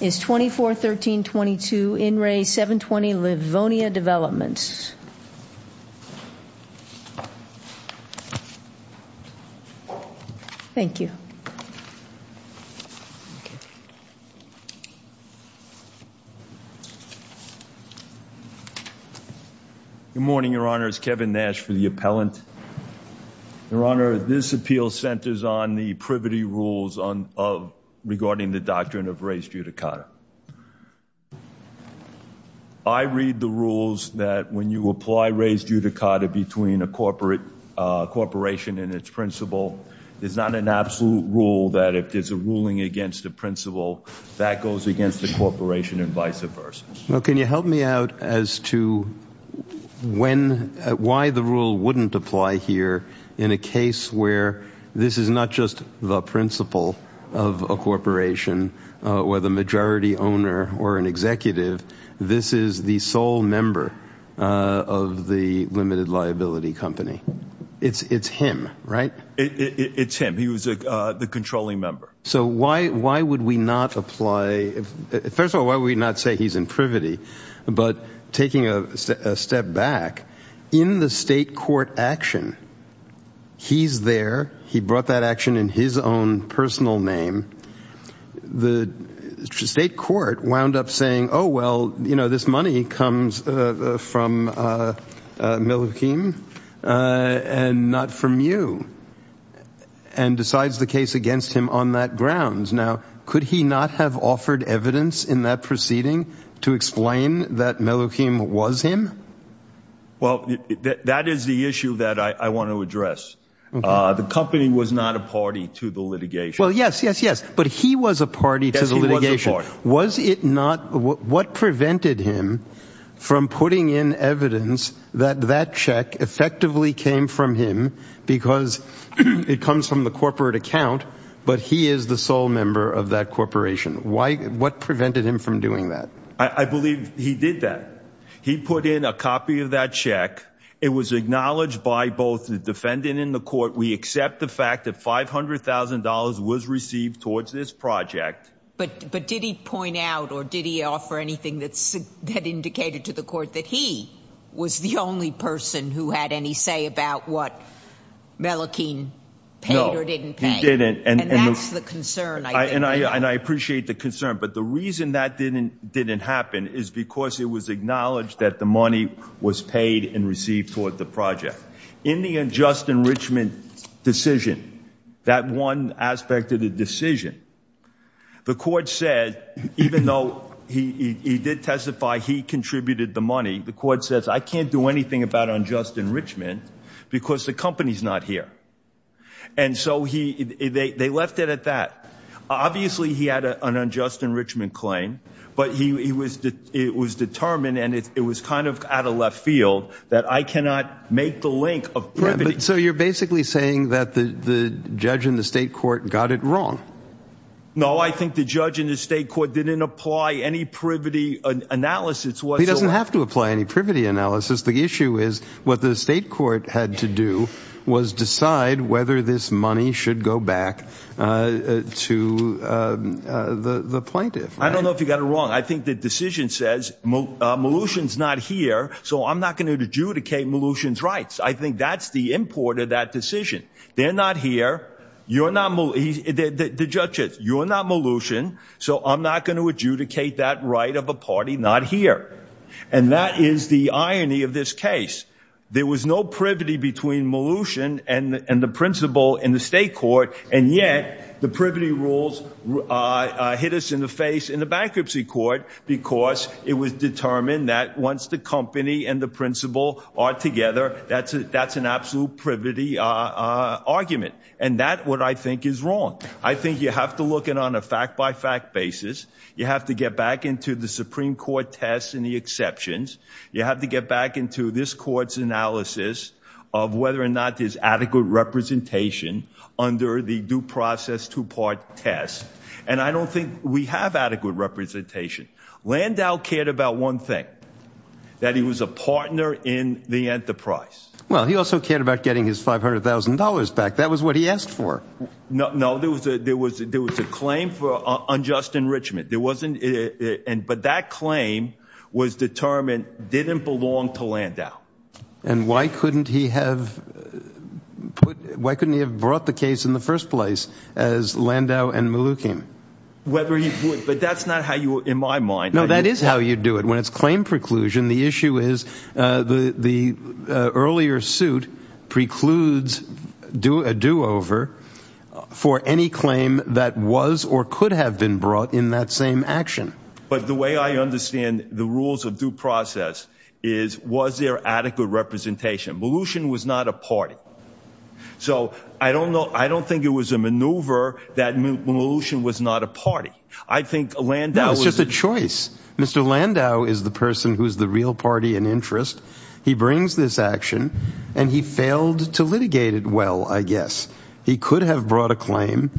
Is 24-13-22 in Re 720 Livonia Developments. Thank you. Good morning, Your Honor. It's Kevin Nash for the appellant. Your Honor. This appeal centers on the privity rules on of regarding the doctrine of res judicata. I read the rules that when you apply res judicata between a corporate corporation and its principal is not an absolute rule that if there's a ruling against the principal that goes against the corporation and vice versa. Well, can you help me out as to when why the rule wouldn't apply here in a case where this is not just the principle of a corporation where the majority owner or an executive? This is the sole member of the limited liability company. It's it's him, right? It's him. He was the controlling member. So why would we not apply? First of all, why would we not say he's in privity but taking a step back in the state court action? He's there. He brought that action in his own personal name. The state court wound up saying, oh, well, you know, this money comes from Milokim and not from you and decides the case against him on that grounds. Now, could he not have offered evidence in that proceeding to explain that Milokim was him? Well, that is the issue that I want to address. The company was not a party to the litigation. Well, yes, yes, yes. But he was a party to the litigation. Was it not what prevented him from putting in evidence that that check effectively came from him because it comes from the corporate account, but he is the sole member of that corporation. Why what prevented him from doing that? I believe he did that. He put in a copy of that check. It was acknowledged by both the defendant in the court. We accept the fact that $500,000 was received towards this project. But did he point out or did he offer anything that indicated to the court that he was the only person who had any say about what Milokim paid or didn't pay? No, he didn't. And that's the concern. And I appreciate the concern. But the reason that didn't didn't happen is because it was acknowledged that the money was paid and received toward the project. In the unjust enrichment decision, that one aspect of the decision, the court said, even though he did testify, he contributed the money. The court says, I can't do anything about unjust enrichment because the company's not here. And so they left it at that. Obviously, he had an unjust enrichment claim, but it was determined and it was kind of out of left field that I cannot make the link of privity. So you're basically saying that the judge in the state court got it wrong? No, I think the judge in the state court didn't apply any privity analysis. He doesn't have to apply any privity analysis. The issue is what the state court had to do was decide whether this money should go back to the plaintiff. I don't know if you got it wrong. I think the decision says Mnuchin's not here. So I'm not going to adjudicate Mnuchin's rights. I think that's the import of that decision. They're not here. You're not Mnuchin, the judge says, you're not Mnuchin. So I'm not going to adjudicate that right of a party not here. And that is the irony of this case. There was no privity between Mnuchin and the principal in the state court. And yet the privity rules hit us in the face in the bankruptcy court because it was determined that once the company and the principal are together, that's an absolute privity argument. And that's what I think is wrong. I think you have to look at it on a fact-by-fact basis. You have to get back into the Supreme Court test and the exceptions. You have to get back into this court's analysis of whether or not there's adequate representation under the due process two-part test. And I don't think we have adequate representation. Landau cared about one thing, that he was a partner in the enterprise. Well, he also cared about getting his $500,000 back. That was what he asked for. No, there was a claim for unjust enrichment. But that claim was determined didn't belong to Landau. And why couldn't he have brought the case in the first place as Landau and Malukian? Whether he would, but that's not how you in my mind. No, that is how you do it. When it's claim preclusion. The issue is the earlier suit precludes do a do-over for any claim that was or could have been brought in that same action. But the way I understand the rules of due process is was there adequate representation? Malukian was not a party. So I don't know. I don't think it was a maneuver that Malukian was not a party. I think Landau was just a choice. Mr. Landau is the person who is the real party and interest. He brings this action and he failed to litigate it. Well, I guess he could have brought a claim.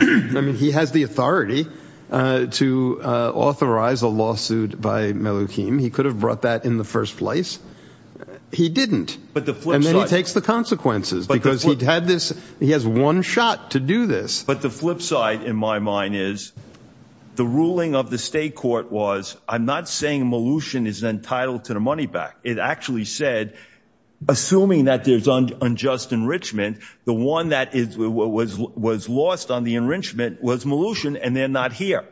I mean, he has the authority to authorize a lawsuit by Malukian. He could have brought that in the first place. He didn't, but the flip side takes the consequences because he'd had this. He has one shot to do this. But the flip side in my mind is the ruling of the state court was I'm not saying Malukian is entitled to the money back. It actually said assuming that there's unjust enrichment. The one that is what was lost on the enrichment was Malukian and they're not here.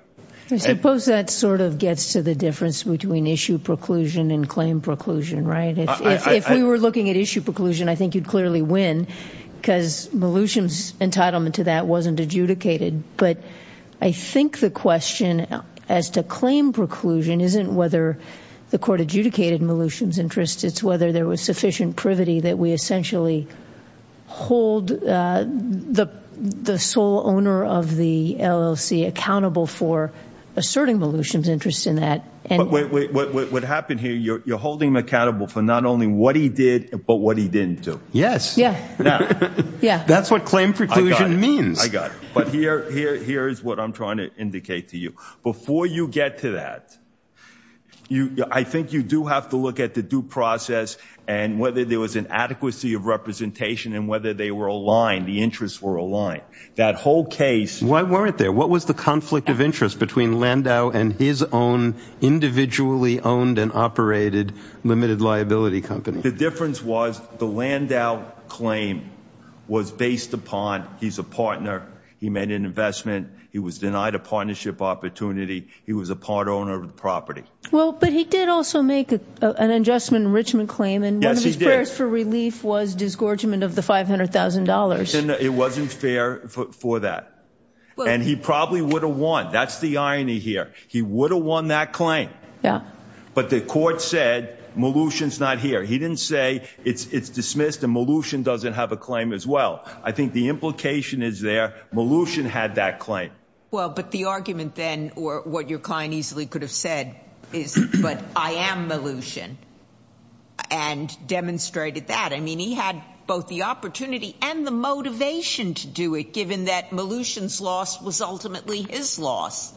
Suppose that sort of gets to the difference between issue preclusion and claim preclusion, right? If we were looking at issue preclusion, I think you'd clearly win because Malukian's entitlement to that wasn't adjudicated. But I think the question as to claim preclusion isn't whether the court adjudicated Malukian's interest. It's whether there was sufficient privity that we essentially hold the sole owner of the LLC accountable for asserting Malukian's interest in that. But what happened here, you're holding him accountable for not only what he did, but what he didn't do. Yes. Yeah, yeah. That's what claim preclusion means. I got it. But here is what I'm trying to indicate to you. Before you get to that, I think you do have to look at the due process and whether there was an adequacy of representation and whether they were aligned, the interests were aligned. That whole case. Why weren't there? What was the conflict of interest between Landau and his own individually owned and operated limited liability company? The difference was the Landau claim was based upon he's a partner. He made an investment. He was denied a partnership opportunity. He was a part owner of the property. Well, but he did also make an adjustment enrichment claim and one of his prayers for relief was disgorgement of the $500,000. It wasn't fair for that and he probably would have won. That's the irony here. He would have won that claim. Yeah, but the court said Molution's not here. He didn't say it's dismissed and Molution doesn't have a claim as well. I think the implication is there. Molution had that claim. Well, but the argument then or what your client easily could have said is, but I am Molution and demonstrated that. I mean, he had both the opportunity and the motivation to do it given that Molution's loss was ultimately his loss.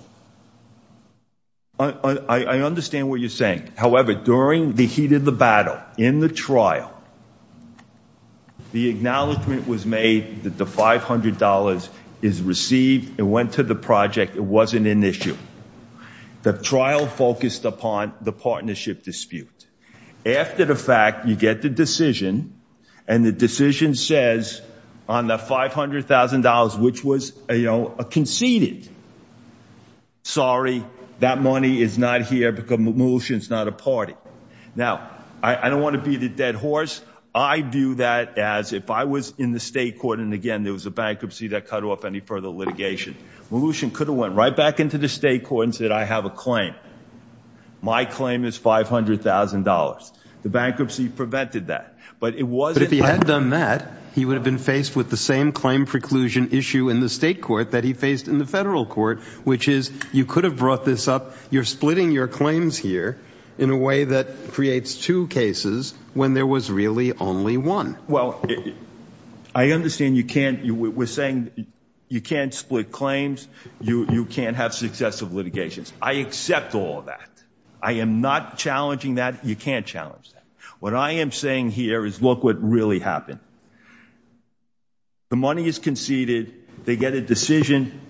I understand what you're saying. However, during the heat of the battle in the trial. The acknowledgement was made that the $500 is received and went to the project. It wasn't an issue. The trial focused upon the partnership dispute after the fact you get the decision and the decision says on the $500,000 which was a conceded. Sorry, that money is not here because Molution's not a party. Now. I don't want to be the dead horse. I do that as if I was in the state court. And again, there was a bankruptcy that cut off any further litigation. Molution could have went right back into the state court and said I have a claim. My claim is $500,000 the bankruptcy prevented that but it was if he had done that he would have been faced with the same claim preclusion issue in the state court that he faced in the federal court, which is you could have brought this up. You're splitting your claims here in a way that creates two cases when there was really only one. Well, I understand you can't you were saying you can't split claims. You can't have successive litigations. I accept all that. I am not challenging that you can't challenge what I am saying here is look what really happened. The money is conceded they get a decision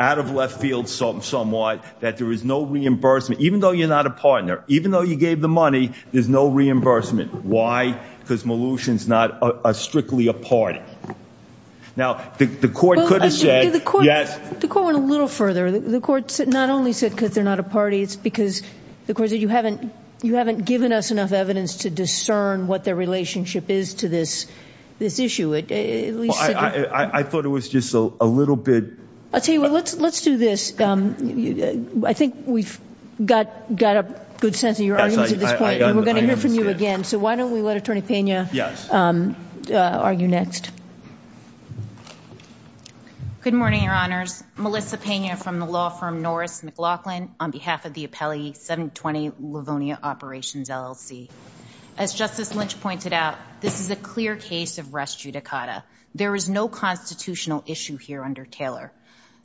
out of left field salt and somewhat that there is no reimbursement even though you're not a partner, even though you gave the money, there's no reimbursement. Why because Molution's not a strictly a party. Now the court could have said yes, the court went a little further the courts not only said because they're not a party. It's because the course that you haven't you haven't given us enough evidence to discern what their relationship is to this this issue it at least I thought it was just a little bit. I'll tell you what. Let's let's do this. I think we've got got a good sense of your eyes. We're going to hear from you again. So why don't we let Attorney Pena? Yes, are you next? Good morning, Your Honors Melissa Pena from the law firm Norris McLaughlin on behalf of the appellee 720 Livonia operations LLC as Justice Lynch pointed out. This is a clear case of res judicata. There is no constitutional issue here under Taylor.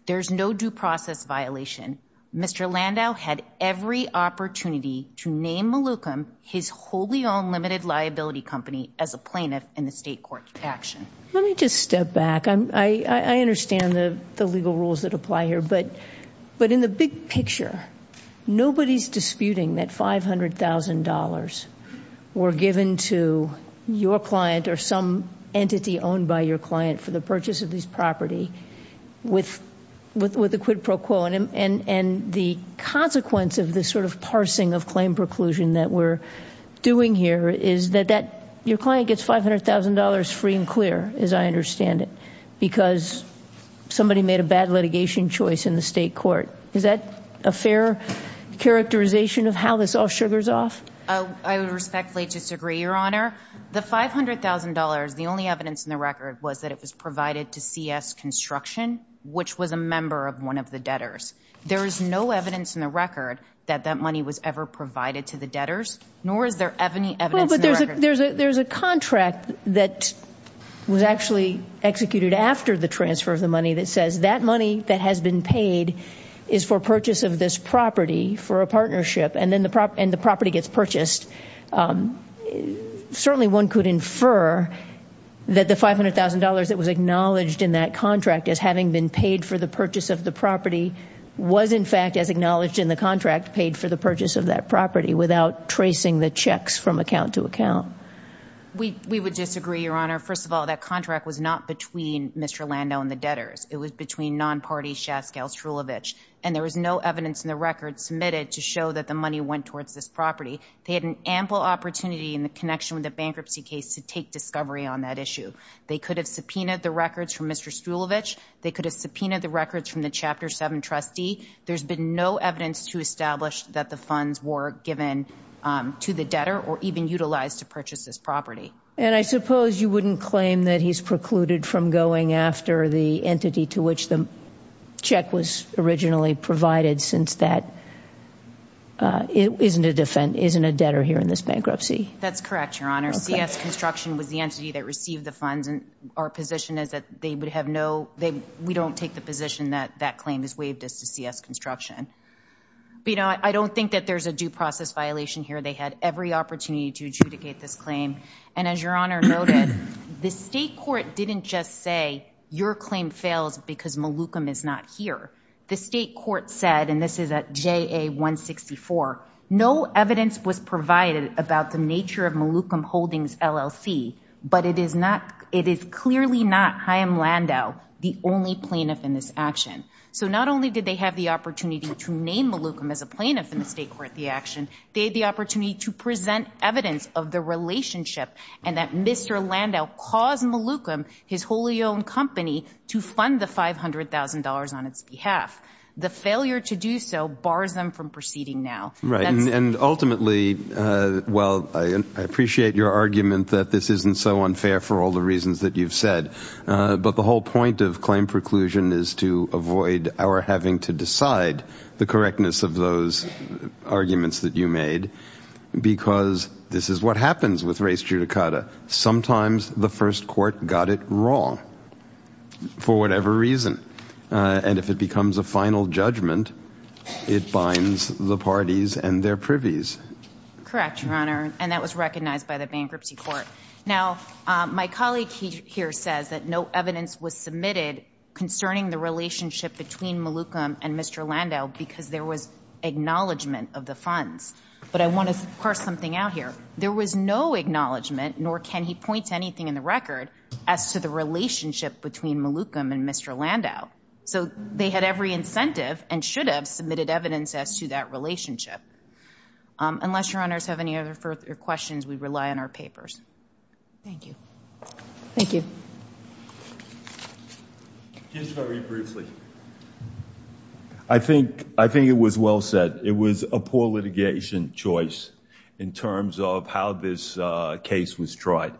There's no due process violation. Landau had every opportunity to name Malukum his wholly own limited liability company as a plaintiff in the state court action. Let me just step back. I understand the the legal rules that apply here, but but in the big picture, nobody's disputing that $500,000 were given to your client or some entity owned by your client for the purchase of these property with with with the quid pro quo and and and the consequence of this sort of parsing of claim preclusion that we're doing here is that that your client gets $500,000 free and clear as I understand it because somebody made a bad litigation choice in the state court. Is that a fair characterization of how this all sugars off? I would respectfully disagree your honor the $500,000. The only evidence in the record was that it was provided to CS construction, which was a member of one of the debtors. There is no evidence in the record that that money was ever provided to the debtors nor is there any evidence, but there's a there's a there's a contract that was actually executed after the transfer of the money that says that money that has been paid is for purchase of this property for a partnership and then the prop and the property gets purchased. Certainly one could infer that the $500,000 that was acknowledged in that contract as having been paid for the purchase of the property was in fact as acknowledged in the contract paid for the purchase of that property without tracing the checks from account to account. We would disagree your honor. First of all, that contract was not between Mr. Lando and the debtors. It was between non-party Shaskel Strulevich and there was no evidence in the record submitted to show that the money went towards this property. They had an ample opportunity in the connection with the bankruptcy case to take discovery on that issue. They could have subpoenaed the records from Mr. Strulevich. They could have subpoenaed the records from the Chapter 7 trustee. There's been no evidence to establish that the funds were given to the debtor or even utilized to purchase this property and I suppose you wouldn't claim that he's precluded from going after the entity to which the check was originally provided since that it isn't a different isn't a debtor here in this bankruptcy. That's correct. Your honor CS construction was the entity that received the funds and our position is that they would have no they we don't take the position that that claim is waived as to CS construction, but you know, I don't think that there's a due process violation here. They had every opportunity to adjudicate this claim. And as your honor noted the state court didn't just say your claim fails because Malukum is not here. The state court said and this is at JA 164. No evidence was provided about the nature of Malukum Holdings LLC, but it is not it is clearly not Chaim Landau the only plaintiff in this action. So not only did they have the opportunity to name Malukum as a plaintiff in the state court the action they the opportunity to present evidence of the relationship and that Mr. Landau caused Malukum his wholly owned company to fund the $500,000 on its behalf the failure to do so bars them from proceeding now right and ultimately well, I appreciate your argument that this isn't so unfair for all the reasons that you've said but the whole point of claim preclusion is to avoid our having to decide the correctness of those arguments that you made because this is what happens with race judicata. Sometimes the first court got it wrong for whatever reason and if it becomes a final judgment it binds the parties and their privies correct your honor and that was recognized by the bankruptcy court now my colleague here says that no evidence was submitted concerning the relationship between Malukum and Mr. Landau because there was acknowledgement of the funds, but I want to parse something out here. There was no acknowledgement nor can he point to anything in the record as to the relationship between Malukum and Mr. Landau. So they had every incentive and should have submitted evidence as to that relationship unless your honors have any other further questions. We rely on our papers. Thank you. Thank you. I think I think it was well said it was a poor litigation choice in terms of how this case was tried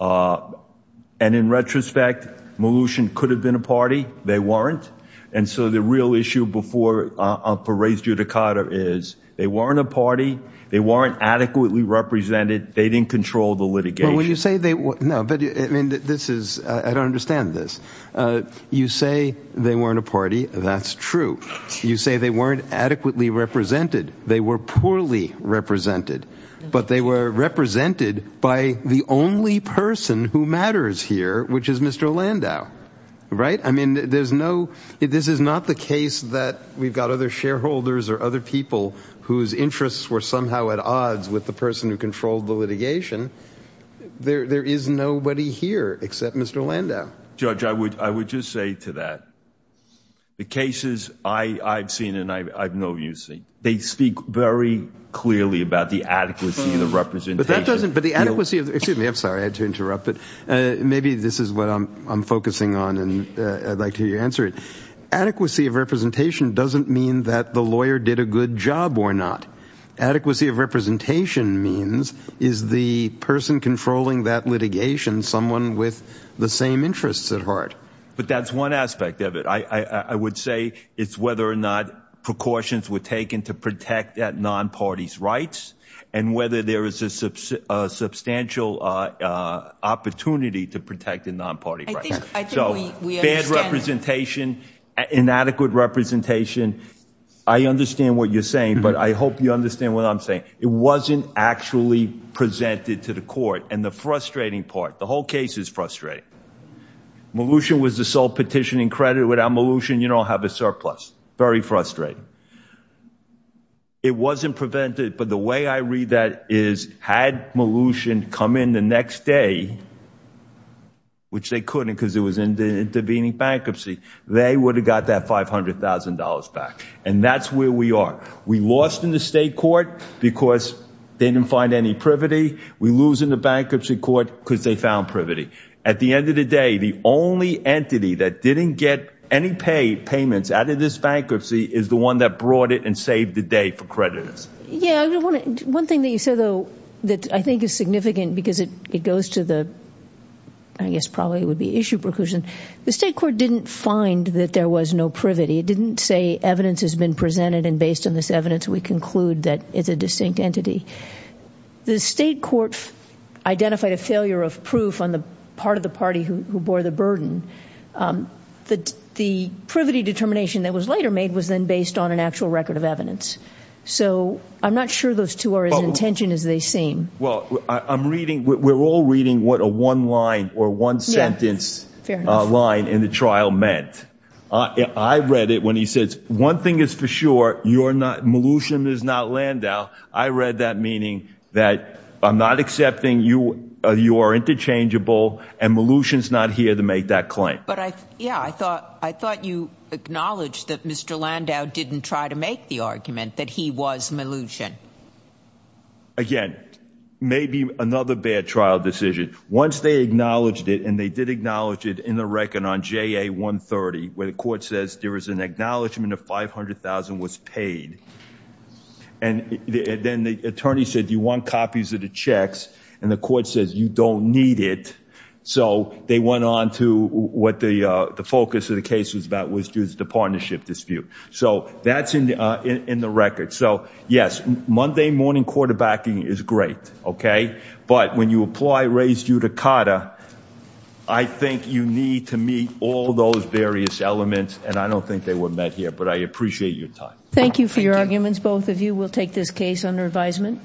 and in retrospect Malukum could have been a party. They weren't and so the real issue before for race judicata is they weren't a party. They weren't adequately represented. They didn't control the litigation when you say they were no, but I mean, this is I don't understand this you say they weren't a party. That's true. You say they weren't adequately represented. They were poorly represented, but they were represented by the only person who matters here, which is Mr. Landau, right? I mean, there's no this is not the case that we've got other shareholders or other people whose interests were somehow at odds with the person who controlled the litigation. There is nobody here except Mr. Landau judge. I would I would just say to that the cases I've seen and I've seen they speak very clearly about the adequacy of the representation, but that doesn't but the adequacy of the excuse me. I'm sorry. I had to interrupt but maybe this is what I'm focusing on and I'd like to answer it adequacy of representation doesn't mean that the lawyer did a good job or not adequacy of representation means is the person controlling that litigation someone with the same interests at heart, but that's one aspect of it. I would say it's whether or not precautions were taken to protect that non-parties rights and whether there is a substantial opportunity to protect the non-party right. So bad representation inadequate representation. I understand what you're saying, but I hope you understand what I'm saying. It wasn't actually presented to the court and the frustrating part. The whole case is frustrating. Molution was the sole petitioning credit without Molution. You don't have a surplus very frustrating. It wasn't prevented. But the way I read that is had Molution come in the next day. Which they couldn't because it was intervening bankruptcy. They would have got that $500,000 back and that's where we are. We lost in the state court because they didn't find any privity. We lose in the bankruptcy court because they found privity at the end of the day. The only entity that didn't get any paid payments out of this bankruptcy is the one that brought it and saved the day for creditors. Yeah, I want to one thing that you said though that I think is significant because it goes to the I guess probably would be issue preclusion. The state court didn't find that there was no privity. It didn't say evidence has been presented and based on this evidence. We conclude that it's a distinct entity. The state court identified a failure of proof on the part of the party who bore the burden that the privity determination that was later made was then based on an actual record of So I'm not sure those two are as intention as they seem. Well, I'm reading we're all reading what a one line or one sentence line in the trial meant. I read it when he says one thing is for sure. You're not Molution is not Landau. I read that meaning that I'm not accepting you or you are Interchangeable and Molution is not here to make that claim. But I yeah, I thought I thought you acknowledged that Mr. Landau didn't try to make the argument that he was Molution. Again, maybe another bad trial decision once they acknowledged it and they did acknowledge it in the record on JA 130 where the court says there is an acknowledgement of 500,000 was paid and then the attorney said you want copies of the checks and the court says you don't need it. So they went on to what the focus of the case was about was due to the partnership dispute. So that's in the in the record. So yes, Monday morning quarterbacking is great. Okay, but when you apply raise you to Carter, I think you need to meet all those various elements and I don't think they were met here, but I appreciate your time. Thank you for your arguments. Both of you will take this case under advisement.